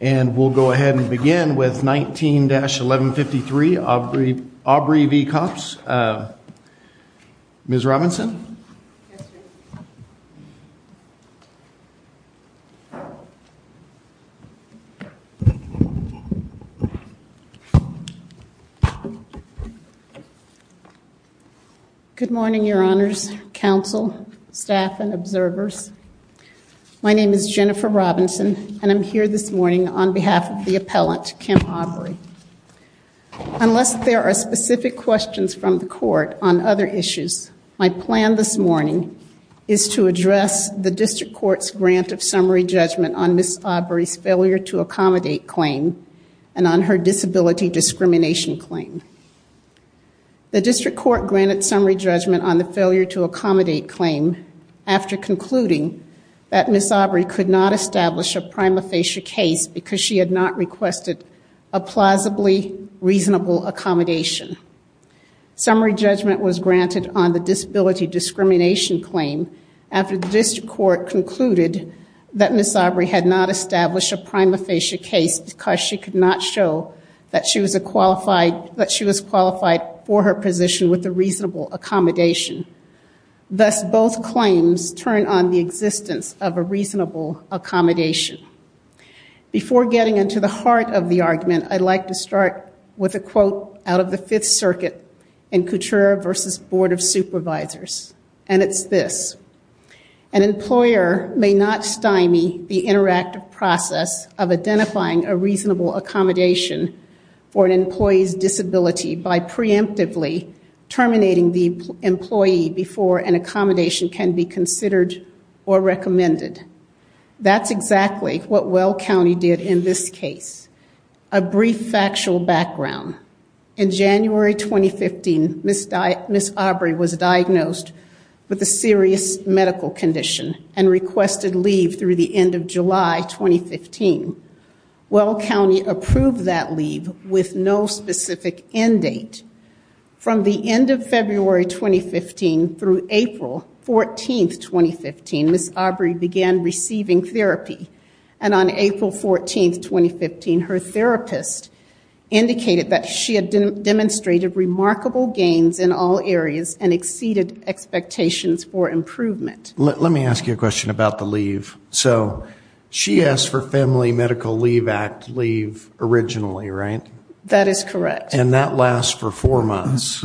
and we'll go ahead and begin with 19-1153 Aubrey v. Koppes. Ms. Robinson. Good morning your honors, counsel, staff, and observers. My name is Jennifer Robinson and I'm here this morning on behalf of the appellant, Kim Aubrey. Unless there are specific questions from the court on other issues, my plan this morning is to address the district court's grant of summary judgment on Ms. Aubrey's failure to accommodate claim and on her disability discrimination claim. The district court granted summary judgment on the failure to accommodate claim after concluding that Ms. Aubrey could not establish a prima facie case because she had not requested a plausibly reasonable accommodation. Summary judgment was granted on the disability discrimination claim after the district court concluded that Ms. Aubrey had not established a prima facie case because she could not show that she was qualified for her position with a reasonable accommodation. Thus both claims turn on the existence of a reasonable accommodation. Before getting into the heart of the argument, I'd like to start with a quote out of the Fifth Circuit in Couture v. Board of Supervisors and it's this, an employer may not stymie the interactive process of identifying a reasonable accommodation for an employee's disability by preemptively terminating the employee before an accommodation can be considered or recommended. That's exactly what Well County did in this case. A brief factual background, in January 2015, Ms. Aubrey was diagnosed with a serious medical condition and requested leave through the end of July 2015. Well County approved that leave with no specific end date. From the end of February 2015 through April 14th 2015, Ms. Aubrey began receiving therapy and on April 14th 2015, her therapist indicated that she had demonstrated remarkable gains in all areas and Let me ask you a question about the leave. So she asked for family medical leave act leave originally, right? That is correct. And that lasts for four months?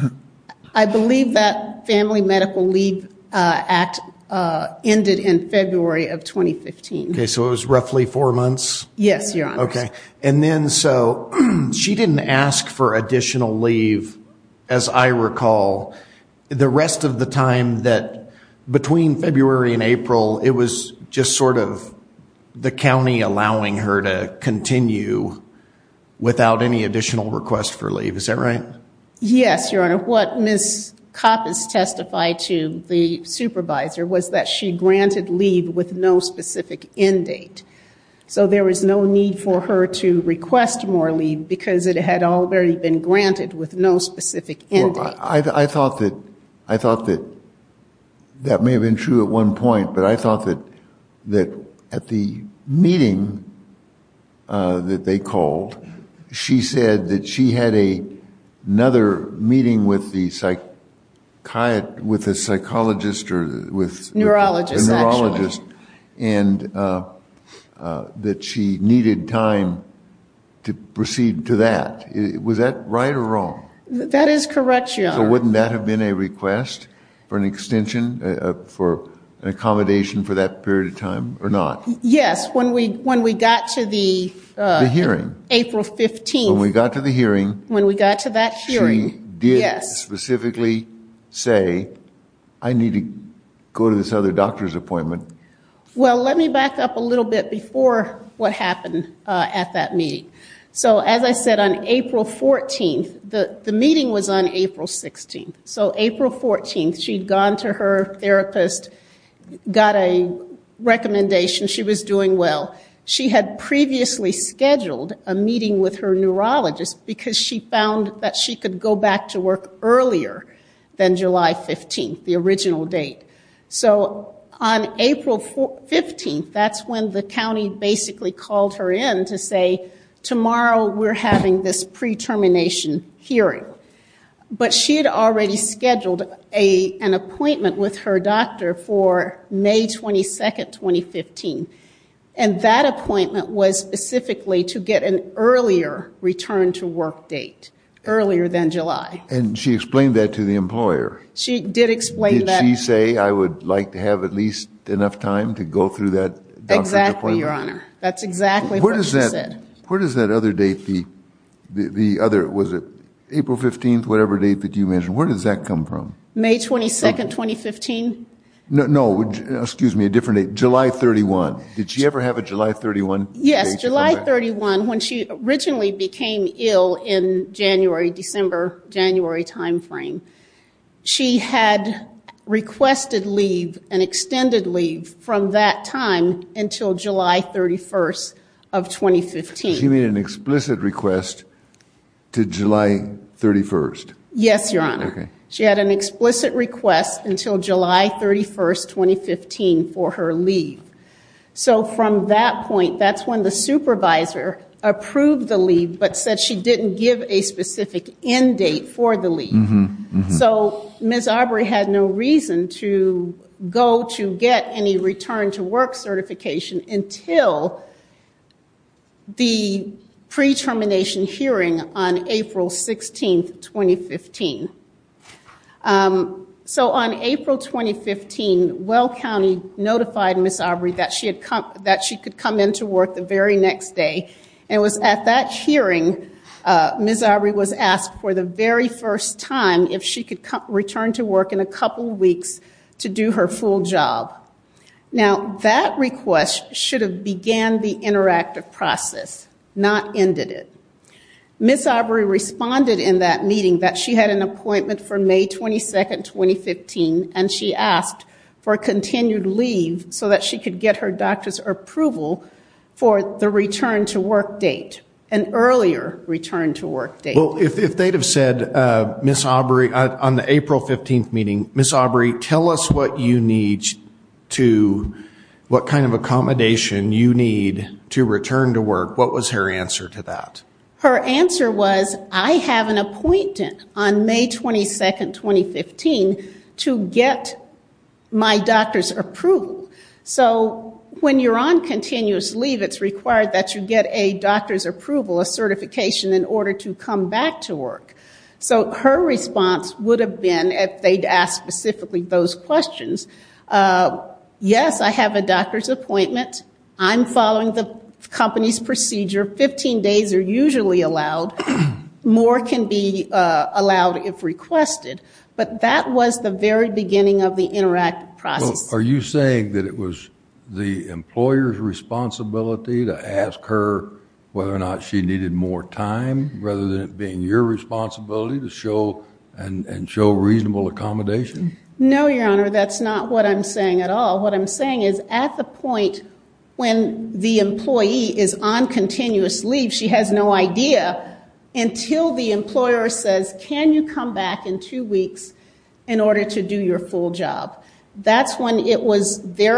I believe that family medical leave act ended in February of 2015. Okay, so it was roughly four months? Yes, your honor. Okay, and then so she didn't ask for additional leave in April. It was just sort of the county allowing her to continue without any additional request for leave. Is that right? Yes, your honor. What Ms. Coppins testified to the supervisor was that she granted leave with no specific end date. So there was no need for her to request more leave because it had already been granted with no specific end date. I thought that I thought that that may have been true at one point, but I thought that that at the meeting that they called, she said that she had a another meeting with the psychiatrist, with the psychologist or with neurologist and that she needed time to proceed to that. Was that right or wrong? That is correct, your honor. So wouldn't that have been a request for an accommodation for that period of time or not? Yes, when we got to the hearing, April 15th, when we got to that hearing, she did specifically say, I need to go to this other doctor's appointment. Well, let me back up a little bit before what happened at that meeting. So as I said, on April 14th, the meeting was on April 16th. So April 14th, she'd gone to her therapist, got a recommendation, she was doing well. She had previously scheduled a meeting with her neurologist because she found that she could go back to work earlier than July 15th, the original date. So on April 15th, that's when the county basically called her in to say, tomorrow we're having this pre-termination hearing. But she had already scheduled a an appointment with her doctor for May 22nd, 2015 and that appointment was specifically to get an earlier return to work date, earlier than July. And she explained that to the employer? She did explain that. Did she say, I would like to have at least enough time to go through that doctor's appointment? Exactly, your honor. That's exactly what she said. Where does that other date, the other, was it April 15th, whatever date that you mentioned, where does that come from? May 22nd, 2015. No, no, excuse me, a different date, July 31. Did she ever have a July 31? Yes, July 31, when she originally became ill in January, December, January time frame. She had requested leave, an extended leave, from that time until July 31st of 2015. She made an explicit request to July 31st? Yes, your honor. She had an explicit request until July 31st, 2015 for her leave. So from that point, that's when the supervisor approved the leave, but said she didn't give a specific end date for the leave. So Ms. Aubrey had no reason to go to get any return to work certification until the pre-termination hearing on April 16th, 2015. So on April 2015, Well County notified Ms. Aubrey that she could come into work the very next day, and it was at that hearing Ms. Aubrey was asked for the very first time if she could return to work in a couple weeks to do her full job. Now that request should have began the interactive process, not ended it. Ms. Aubrey responded in that meeting that she had an appointment for May 22nd, 2015, and she asked for continued leave so that she could get her doctor's approval for the return to work date, an earlier return to work date. Well, if they'd have said, Ms. Aubrey, on the April 15th meeting, Ms. Aubrey, tell us what you need to, what kind of accommodation you need to return to work, what was her answer to that? Her answer was, I have an appointment on May 22nd, 2015, to get my doctor's approval. So when you're on continuous leave, it's required that you get a doctor's approval, a certification, in order to come back to work. So her response would have been, if they'd asked specifically those questions, yes, I have a doctor's appointment, I'm following the company's procedure, 15 days are usually allowed, more can be allowed if requested. But that was the very beginning of the interactive process. Are you saying that it was the employer's responsibility to ask her whether or not she needed more time, rather than it being your responsibility to show, and show reasonable accommodation? No, Your Honor, that's not what I'm saying at all. What I'm saying is, at the point when the employee is on continuous leave, she has no idea, until the employer says, can you come back in two weeks in order to do your full job? That's when it was their,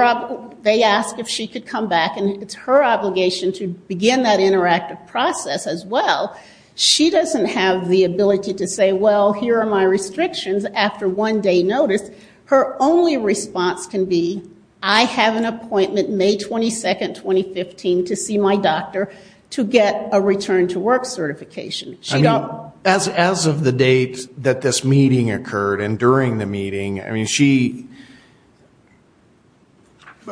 they asked if she could come back, and it's her obligation to begin that interactive process as well. She doesn't have the ability to say, well, here are my restrictions, after one day notice. Her only response can be, I have an appointment May 22nd, 2015, to see my doctor to get a return to work certification. I mean, as of the date that this meeting occurred, and during the meeting, I mean, she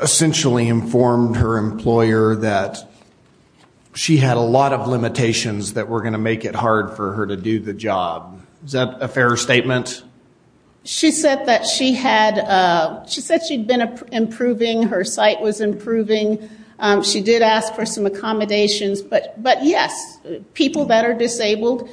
essentially informed her employer that she had a lot of limitations that were going to make it hard for her to do the job. Is that a fair statement? She said that she had, she said she'd been improving, her sight was improving. She did ask for some accommodations, but yes, people that are disabled,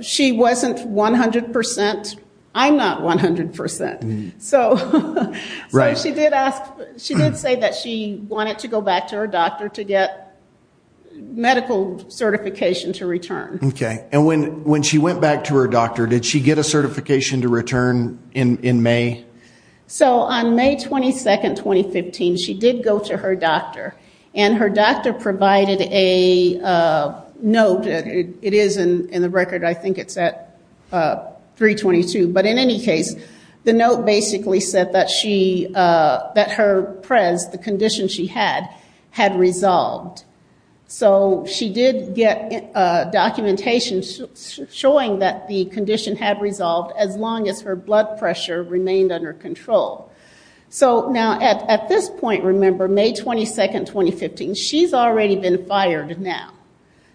she wasn't 100%. I'm not 100%, so she did ask, she did say that she wanted to go back to her doctor to get medical certification to return. Okay, and when she went back to her doctor, did she get a certification to return in May? So on May 22nd, 2015, she did go to her doctor, and her doctor provided a note, it is in the record, I think it's at 322, but in any case, the note basically said that she, that her PREZ, the condition she had, had resolved. So she did get documentation showing that the condition had resolved as long as her blood pressure remained under control. So now at this point, remember, May 22nd, 2015, she's already been fired now.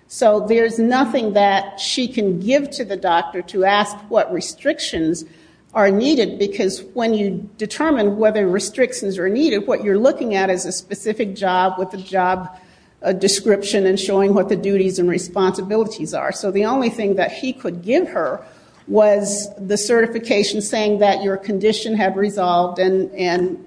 So there's nothing that she can give to the doctor to ask what restrictions are needed, because when you determine whether restrictions are needed, what you're looking at is a specific job with a job description and showing what the duties and responsibilities are. So the only thing that he could give her was the certification saying that your condition had resolved, and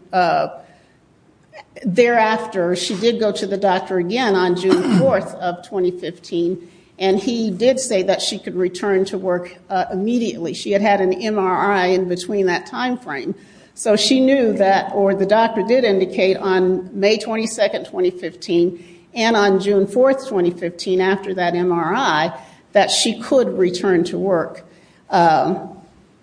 thereafter, she did go to the doctor again on June 4th of 2015, and he did say that she could return to work immediately. She had had an MRI in between that time frame. So she knew that, or the doctor did indicate on May 22nd, 2015, and on June 4th, 2015, after that MRI, that she could return to work.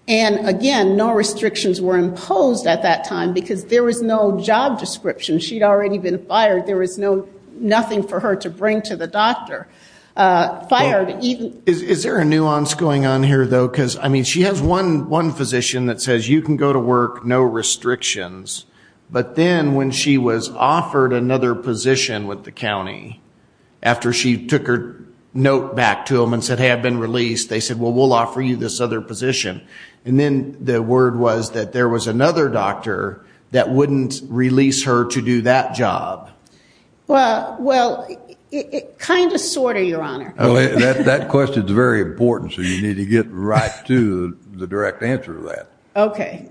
And again, no restrictions were imposed at that time, because there was no job description. She'd already been fired. There was no, nothing for her to bring to the doctor. Fired. Is there a nuance going on here, though? Because, I mean, she has one physician that says, you can go to work, no restrictions. But then when she was offered another position with the county, after she took her note back to them and said, hey, I've been released, they said, well, we'll offer you this other position. And then the word was that there was another doctor that wouldn't release her to do that job. Well, well, it kind of, sort of, Your Honor. That question's very important, so you need to get right to the direct answer to that. Okay.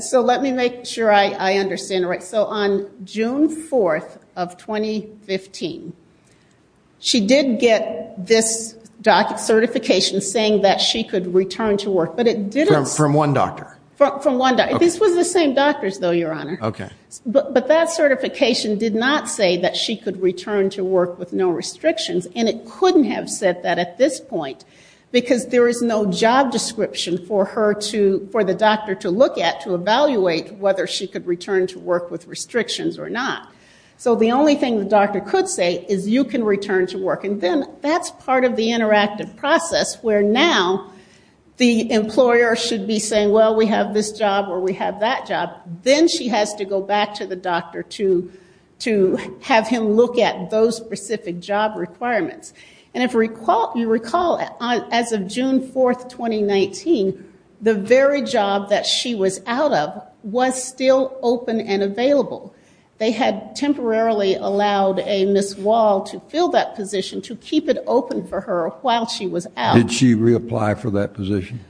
So let me make sure I understand it right. So on June 4th of 2015, she did get this certification saying that she could return to work, but it didn't say. From one doctor. From one doctor. This was the same doctors, though, Your Honor. Okay. But that certification did not say that she could return to work with no restrictions. And it couldn't have said that at this point, because there is no job description for her to, for the doctor to look at to evaluate whether she could return to work with restrictions or not. So the only thing the doctor could say is, you can return to work. And then that's part of the interactive process, where now the employer should be saying, well, we have this job or we have that job. Then she has to go back to the doctor to have him look at those specific job requirements. And if you recall, as of June 4th, 2019, the very job that she was out of was still open and available. They had temporarily allowed a Ms. Wall to fill that position to keep it open for her while she was out. Did she reapply for that position?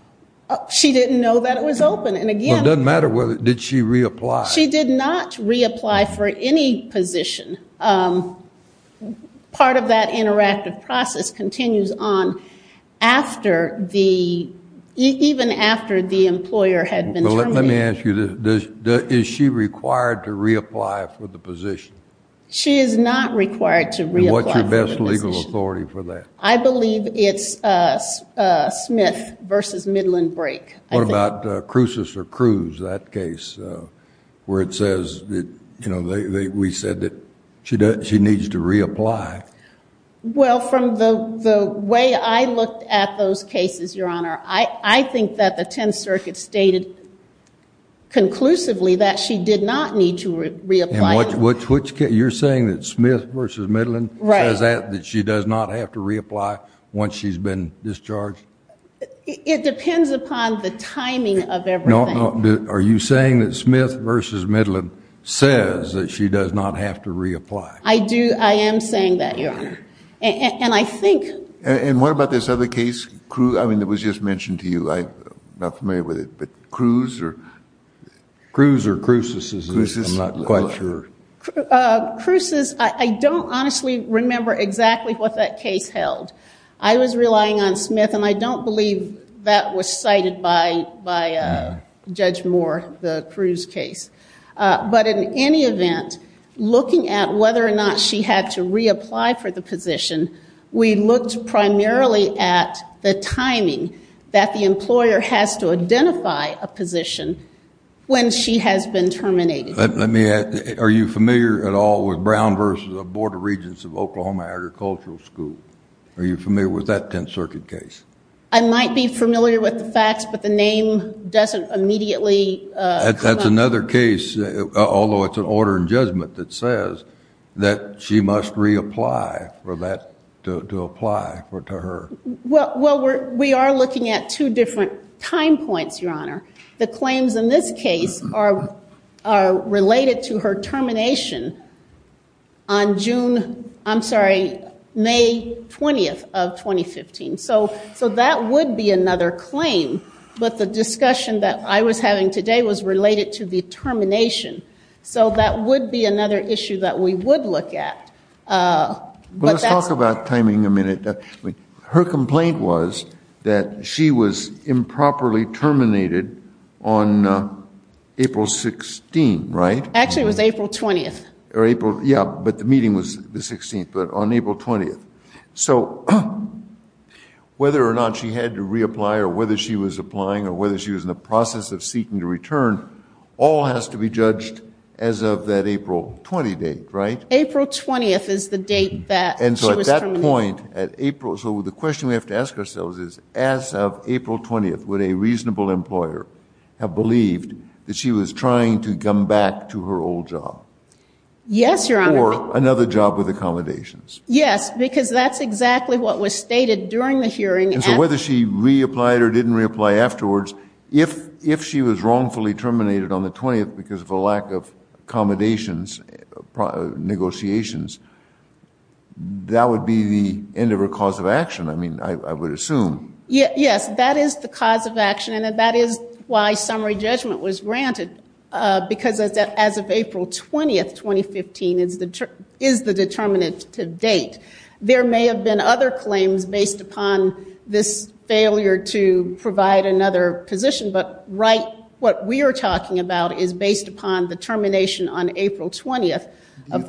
She didn't know that it was open. It doesn't matter whether, did she reapply? She did not reapply for any position. Part of that interactive process continues on after the, even after the employer had been terminated. Let me ask you, is she required to reapply for the position? She is not required to reapply for the position. And what's your best legal authority for that? I believe it's Smith versus Midland Brake. What about Crucis or Cruz, that case where it says that, you know, we said that she needs to reapply? Well, from the way I looked at those cases, Your Honor, I think that the 10th Circuit stated conclusively that she did not need to reapply. And which case, you're saying that Smith versus Midland? Right. Does that, that she does not have to reapply once she's been discharged? It depends upon the timing of everything. Are you saying that Smith versus Midland says that she does not have to reapply? I do, I am saying that, Your Honor. And I think... And what about this other case, Cruz, I mean, it was just mentioned to you, I'm not familiar with it, but Cruz or... Cruz or Crucis, I'm not quite sure. Crucis, I don't honestly remember exactly what that case held. I was relying on Smith, and I don't believe that was cited by Judge Moore, the Cruz case. But in any event, looking at whether or not she had to reapply for the position, we looked primarily at the timing that the employer has to identify a position when she has been terminated. Let me ask, are you familiar at all with Brown versus the Board of Regents of Oklahoma Agricultural School? Are you familiar with that Tenth Circuit case? I might be familiar with the facts, but the name doesn't immediately... That's another case, although it's an order in judgment that says that she must reapply for that, to apply to her. Well, we are looking at two different time points, Your Honor. The claims in this case are related to her termination on June, I'm sorry, May 20th of 2015. So that would be another claim. But the discussion that I was having today was related to the termination. So that would be another issue that we would look at. Let's talk about timing a minute. Her complaint was that she was improperly terminated on April 16, right? Actually, it was April 20th. Yeah, but the meeting was the 16th, but on April 20th. So whether or not she had to reapply, or whether she was applying, or whether she was in the process of seeking to return, all has to be judged as of that April 20 date, right? April 20th is the date that she was terminated. So the question we have to ask ourselves is, as of April 20th, would a reasonable employer have believed that she was trying to come back to her old job? Yes, Your Honor. Or another job with accommodations? Yes, because that's exactly what was stated during the hearing. And so whether she reapplied or didn't reapply afterwards, if she was wrongfully terminated on the 20th because of a lack of accommodations, negotiations, that would be the end of her cause of action, I mean, I would assume. Yes, that is the cause of action, and that is why summary judgment was granted, because as of April 20th, 2015, is the determinative date. There may have been other claims based upon this failure to provide another position, but what we are talking about is based upon the termination on April 20th of 2015.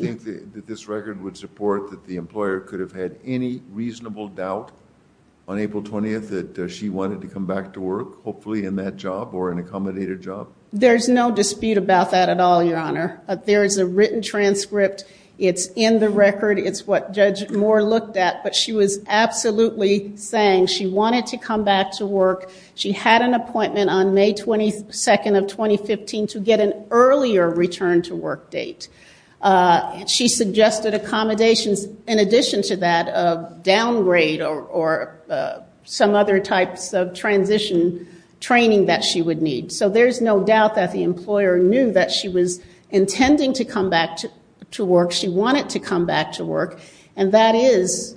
Do you think that this record would support that the employer could have had any reasonable doubt on April 20th that she wanted to come back to work, hopefully in that job or an accommodated job? There's no dispute about that at all, Your Honor. There is a written transcript. It's in the record. It's what Judge Moore looked at. But she was absolutely saying she wanted to come back to work. She had an appointment on May 22nd of 2015 to get an earlier return to work date. She suggested accommodations in addition to that of downgrade or some other types of transition training that she would need. So there's no doubt that the employer knew that she was intending to come back to work. She wanted to come back to work, and that is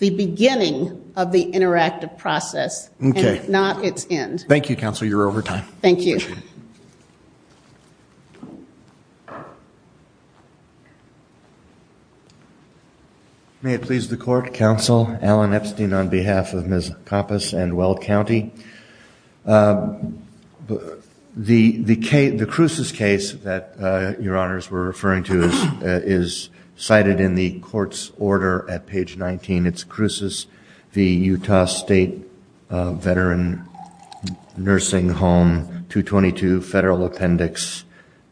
the beginning of the interactive process. Okay. And it's not its end. Thank you, Counsel. You're over time. Thank you. May it please the Court. Counsel Alan Epstein on behalf of Ms. Koppus and Weld County. The Cruces case that Your Honors were referring to is cited in the court's order at page 19. It's Cruces v. Utah State Veteran Nursing Home 222 Federal Appendix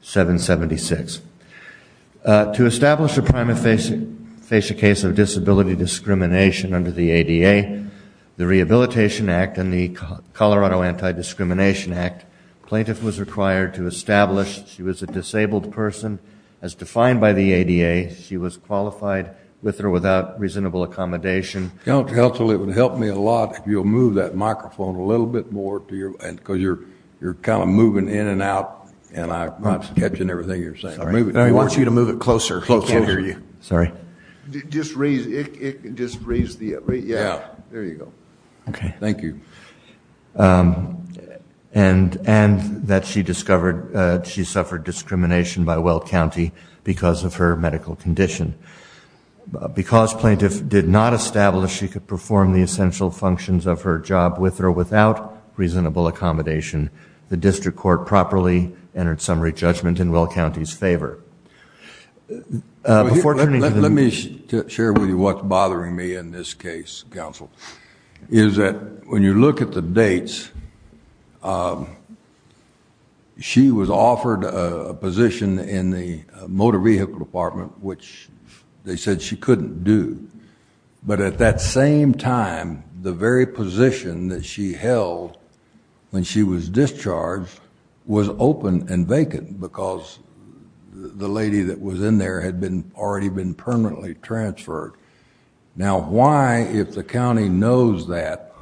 776. To establish a prima facie case of disability discrimination under the ADA, the Rehabilitation Act and the Colorado Anti-Discrimination Act, plaintiff was required to establish she was a disabled person. As defined by the ADA, she was qualified with or without reasonable accommodation. Counsel, it would help me a lot if you'll move that microphone a little bit more because you're kind of moving in and out and I'm not catching everything you're saying. I want you to move it closer. He can't hear you. Sorry. Just raise the, yeah, there you go. Okay. Thank you. And that she suffered discrimination by Weld County because of her medical condition. Because plaintiff did not establish she could perform the essential functions of her job with or without reasonable accommodation, the district court properly entered summary judgment in Weld County's favor. Let me share with you what's bothering me in this case, Counsel, is that when you look at the dates, she was offered a position in the motor vehicle department, which they said she couldn't do. But at that same time, the very position that she held when she was discharged was open and vacant because the lady that was in there had already been permanently transferred. Now, why, if the county knows that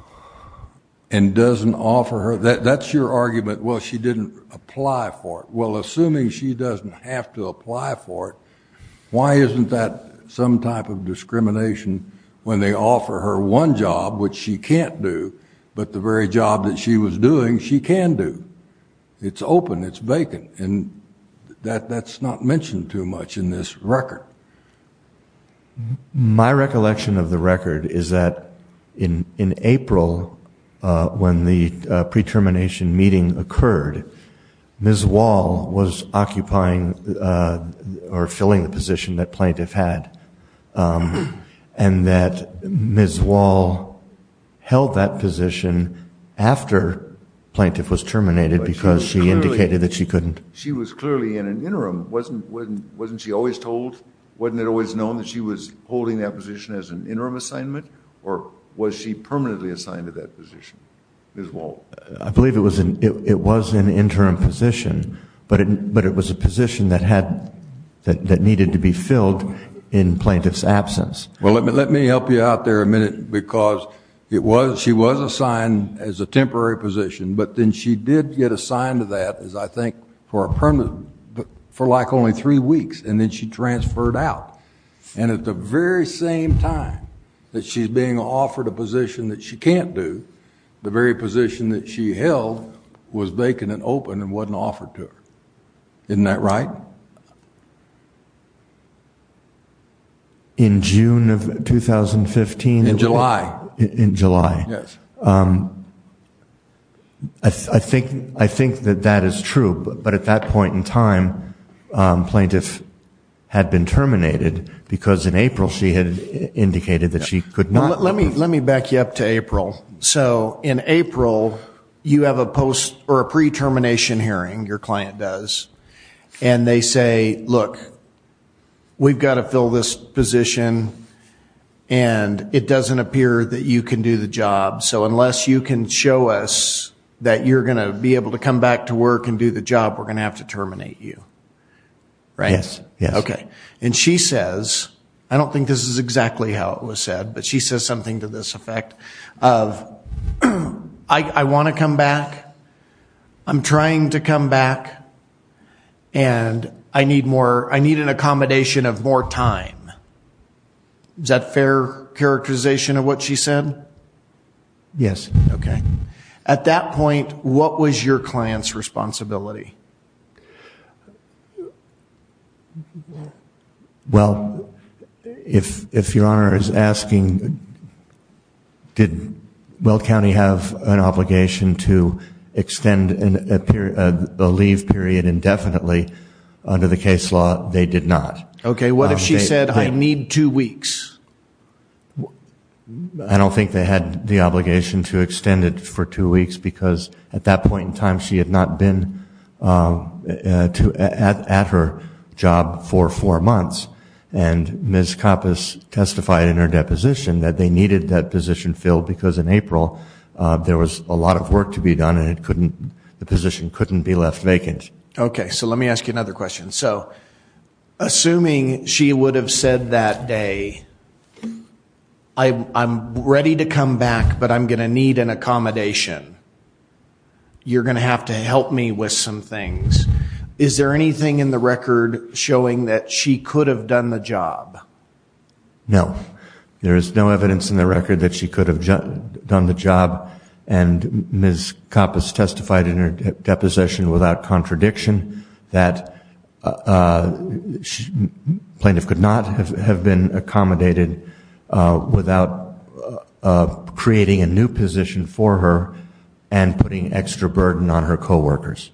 and doesn't offer her, that's your argument, well, she didn't apply for it. Well, assuming she doesn't have to apply for it, why isn't that some type of discrimination when they offer her one job which she can't do but the very job that she was doing she can do? It's open. It's vacant. That's not mentioned too much in this record. My recollection of the record is that in April when the pre-termination meeting occurred, Ms. Wall was occupying or filling the position that plaintiff had and that Ms. Wall held that position after plaintiff was terminated because she indicated that she couldn't. She was clearly in an interim. Wasn't she always told? Wasn't it always known that she was holding that position as an interim assignment? Or was she permanently assigned to that position, Ms. Wall? I believe it was an interim position, but it was a position that needed to be filled in plaintiff's absence. Well, let me help you out there a minute because she was assigned as a temporary position, but then she did get assigned to that as I think for like only three weeks, and then she transferred out. And at the very same time that she's being offered a position that she can't do, the very position that she held was vacant and open and wasn't offered to her. Isn't that right? In June of 2015? In July. In July. Yes. I think that that is true, but at that point in time plaintiff had been terminated because in April she had indicated that she could not. Let me back you up to April. So in April you have a pre-termination hearing, your client does, and they say, look, we've got to fill this position, and it doesn't appear that you can do the job, so unless you can show us that you're going to be able to come back to work and do the job, we're going to have to terminate you, right? Yes. Okay. And she says, I don't think this is exactly how it was said, but she says something to this effect of, I want to come back, I'm trying to come back, and I need an accommodation of more time. Is that a fair characterization of what she said? Yes. Okay. At that point, what was your client's responsibility? Well, if Your Honor is asking, did Weld County have an obligation to extend a leave period indefinitely, under the case law they did not. Okay. What if she said, I need two weeks? I don't think they had the obligation to extend it for two weeks because at that point in time she had not been at her job for four months, and Ms. Kappas testified in her deposition that they needed that position filled because in April there was a lot of work to be done and the position couldn't be left vacant. Okay. So let me ask you another question. So assuming she would have said that day, I'm ready to come back, but I'm going to need an accommodation. You're going to have to help me with some things. Is there anything in the record showing that she could have done the job? No. There is no evidence in the record that she could have done the job, and Ms. Kappas testified in her deposition without contradiction that plaintiff could not have been accommodated without creating a new position for her and putting extra burden on her coworkers.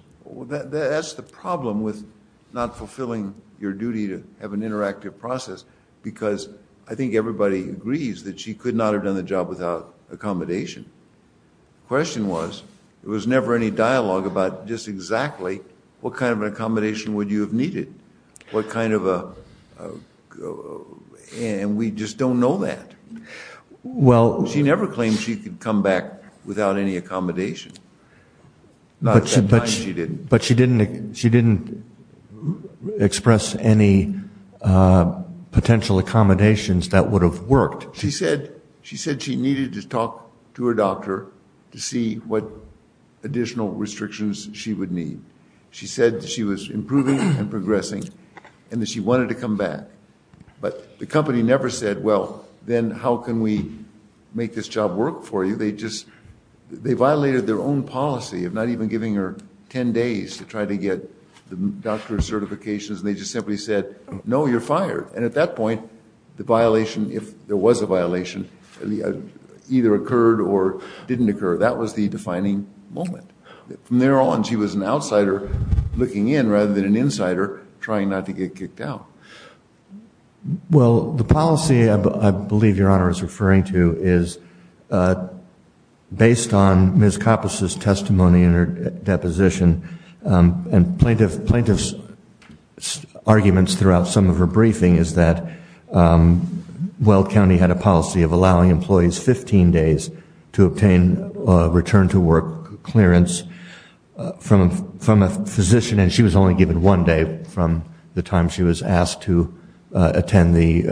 That's the problem with not fulfilling your duty to have an interactive process because I think everybody agrees that she could not have done the job without accommodation. The question was there was never any dialogue about just exactly what kind of an accommodation would you have needed, and we just don't know that. She never claimed she could come back without any accommodation. Not at that time she didn't. But she didn't express any potential accommodations that would have worked. She said she needed to talk to her doctor to see what additional restrictions she would need. She said she was improving and progressing and that she wanted to come back, but the company never said, well, then how can we make this job work for you? They violated their own policy of not even giving her 10 days to try to get the doctor's certifications, and they just simply said, no, you're fired. And at that point the violation, if there was a violation, either occurred or didn't occur. That was the defining moment. From there on she was an outsider looking in rather than an insider trying not to get kicked out. Well, the policy I believe Your Honor is referring to is based on Ms. Coppice's testimony in her deposition, and plaintiff's arguments throughout some of her briefing is that Weld County had a policy of allowing employees 15 days to obtain a return to work clearance from a physician, and she was only given one day from the time she was asked to attend the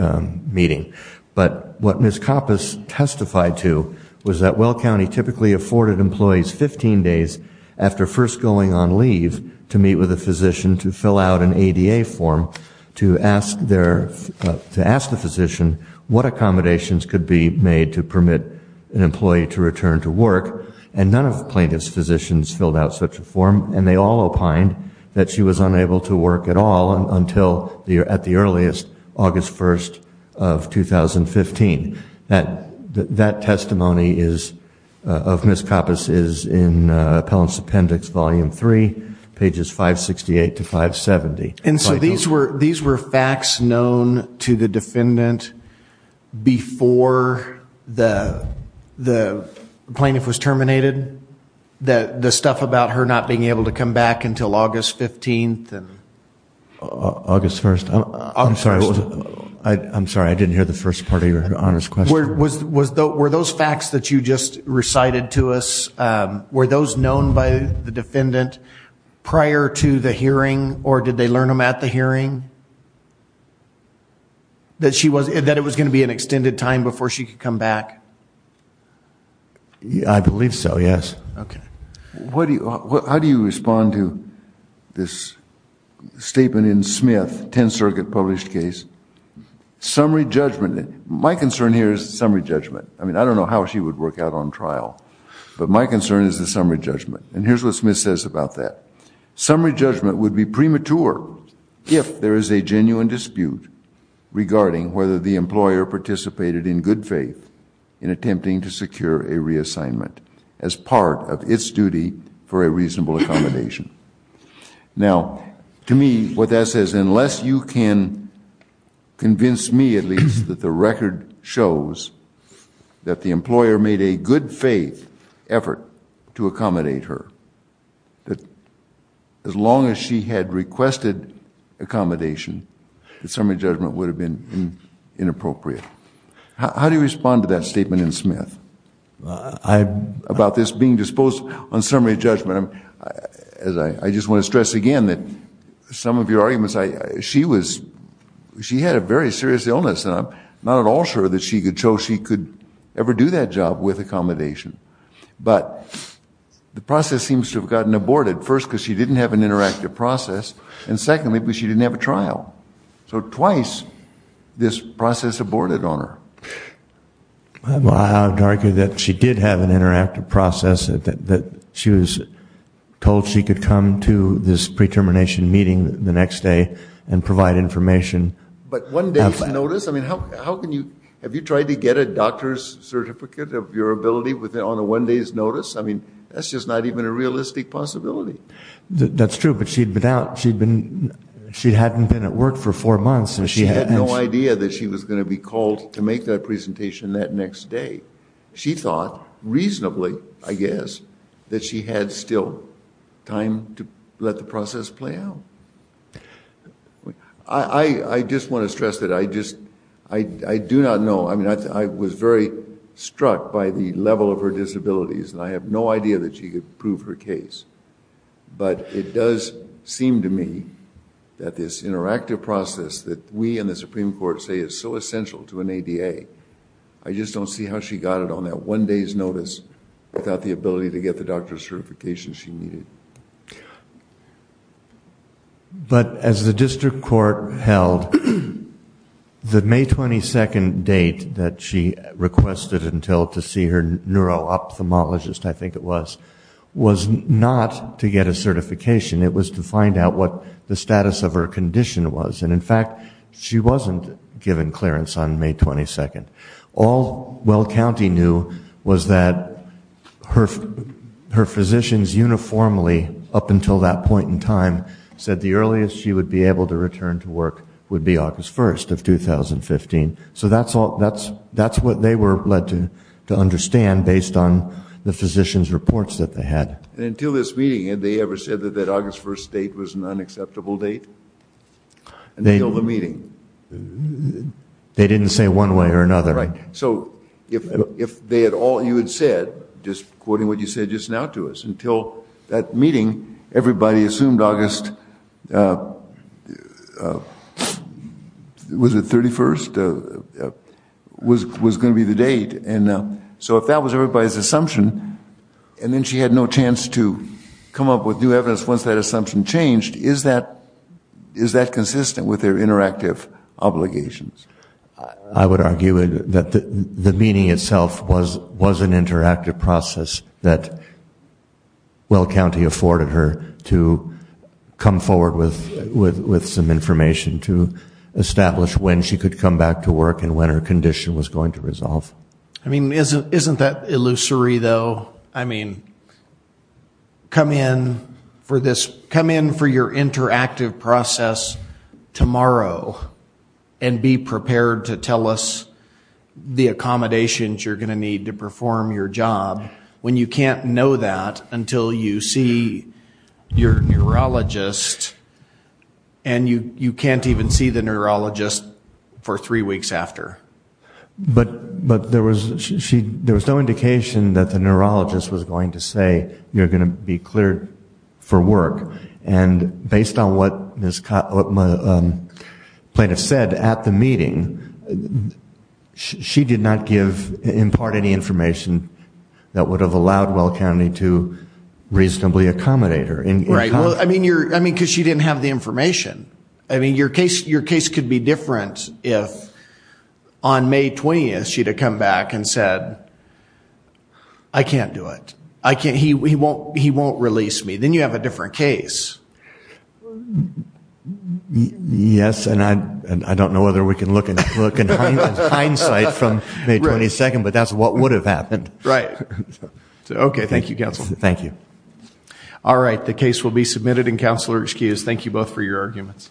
meeting. But what Ms. Coppice testified to was that Weld County typically afforded employees 15 days after first going on leave to meet with a physician to fill out an ADA form to ask the physician what accommodations could be made to permit an employee to return to work, and none of the plaintiff's physicians filled out such a form, and they all opined that she was unable to work at all until at the earliest, August 1st of 2015. That testimony of Ms. Coppice is in Appellant's Appendix Volume 3, pages 568 to 570. And so these were facts known to the defendant before the plaintiff was terminated? The stuff about her not being able to come back until August 15th? August 1st. I'm sorry, I didn't hear the first part of Your Honor's question. Were those facts that you just recited to us, were those known by the defendant prior to the hearing, or did they learn them at the hearing? That it was going to be an extended time before she could come back? I believe so, yes. Okay. How do you respond to this statement in Smith, 10th Circuit published case? Summary judgment. My concern here is summary judgment. I mean, I don't know how she would work out on trial, but my concern is the summary judgment. And here's what Smith says about that. Summary judgment would be premature if there is a genuine dispute regarding whether the employer participated in good faith in attempting to secure a reassignment as part of its duty for a reasonable accommodation. Now, to me, what that says, unless you can convince me at least that the record shows that the employer made a good faith effort to accommodate her, that as long as she had requested accommodation, the summary judgment would have been inappropriate. How do you respond to that statement in Smith about this being disposed on summary judgment? I just want to stress again that some of your arguments, she had a very serious illness, and I'm not at all sure that she could show she could ever do that job with accommodation. But the process seems to have gotten aborted, first because she didn't have an interactive process, and secondly because she didn't have a trial. So twice this process aborted on her. I would argue that she did have an interactive process, that she was told she could come to this pre-termination meeting the next day and provide information. But one day's notice? I mean, have you tried to get a doctor's certificate of your ability on a one day's notice? I mean, that's just not even a realistic possibility. That's true, but she hadn't been at work for four months. She had no idea that she was going to be called to make that presentation that next day. She thought reasonably, I guess, that she had still time to let the process play out. I just want to stress that I do not know. I mean, I was very struck by the level of her disabilities, and I have no idea that she could prove her case. But it does seem to me that this interactive process that we in the Supreme Court say is so essential to an ADA, I just don't see how she got it on that one day's notice without the ability to get the doctor's certification she needed. But as the district court held, the May 22nd date that she requested until to see her neuro-ophthalmologist, I think it was, was not to get a certification. It was to find out what the status of her condition was. And, in fact, she wasn't given clearance on May 22nd. All Weld County knew was that her physicians uniformly, up until that point in time, said the earliest she would be able to return to work would be August 1st of 2015. So that's what they were led to understand based on the physicians' reports that they had. And until this meeting, had they ever said that that August 1st date was an unacceptable date? Until the meeting? They didn't say one way or another, right? So if they had all, you had said, just quoting what you said just now to us, until that meeting everybody assumed August, was it 31st, was going to be the date. And so if that was everybody's assumption, and then she had no chance to come up with new evidence once that assumption changed, is that consistent with their interactive obligations? I would argue that the meeting itself was an interactive process that Weld County afforded her to come forward with some information to establish when she could come back to work and when her condition was going to resolve. I mean, isn't that illusory, though? Well, I mean, come in for your interactive process tomorrow and be prepared to tell us the accommodations you're going to need to perform your job when you can't know that until you see your neurologist and you can't even see the neurologist for three weeks after. But there was no indication that the neurologist was going to say, you're going to be cleared for work. And based on what my plaintiff said at the meeting, she did not impart any information that would have allowed Weld County to reasonably accommodate her. Right, well, I mean, because she didn't have the information. I mean, your case could be different if, on May 20th, she'd have come back and said, I can't do it. He won't release me. Then you have a different case. Yes, and I don't know whether we can look in hindsight from May 22nd, but that's what would have happened. Right. Okay, thank you, Counsel. Thank you. All right, the case will be submitted. Thank you both for your arguments.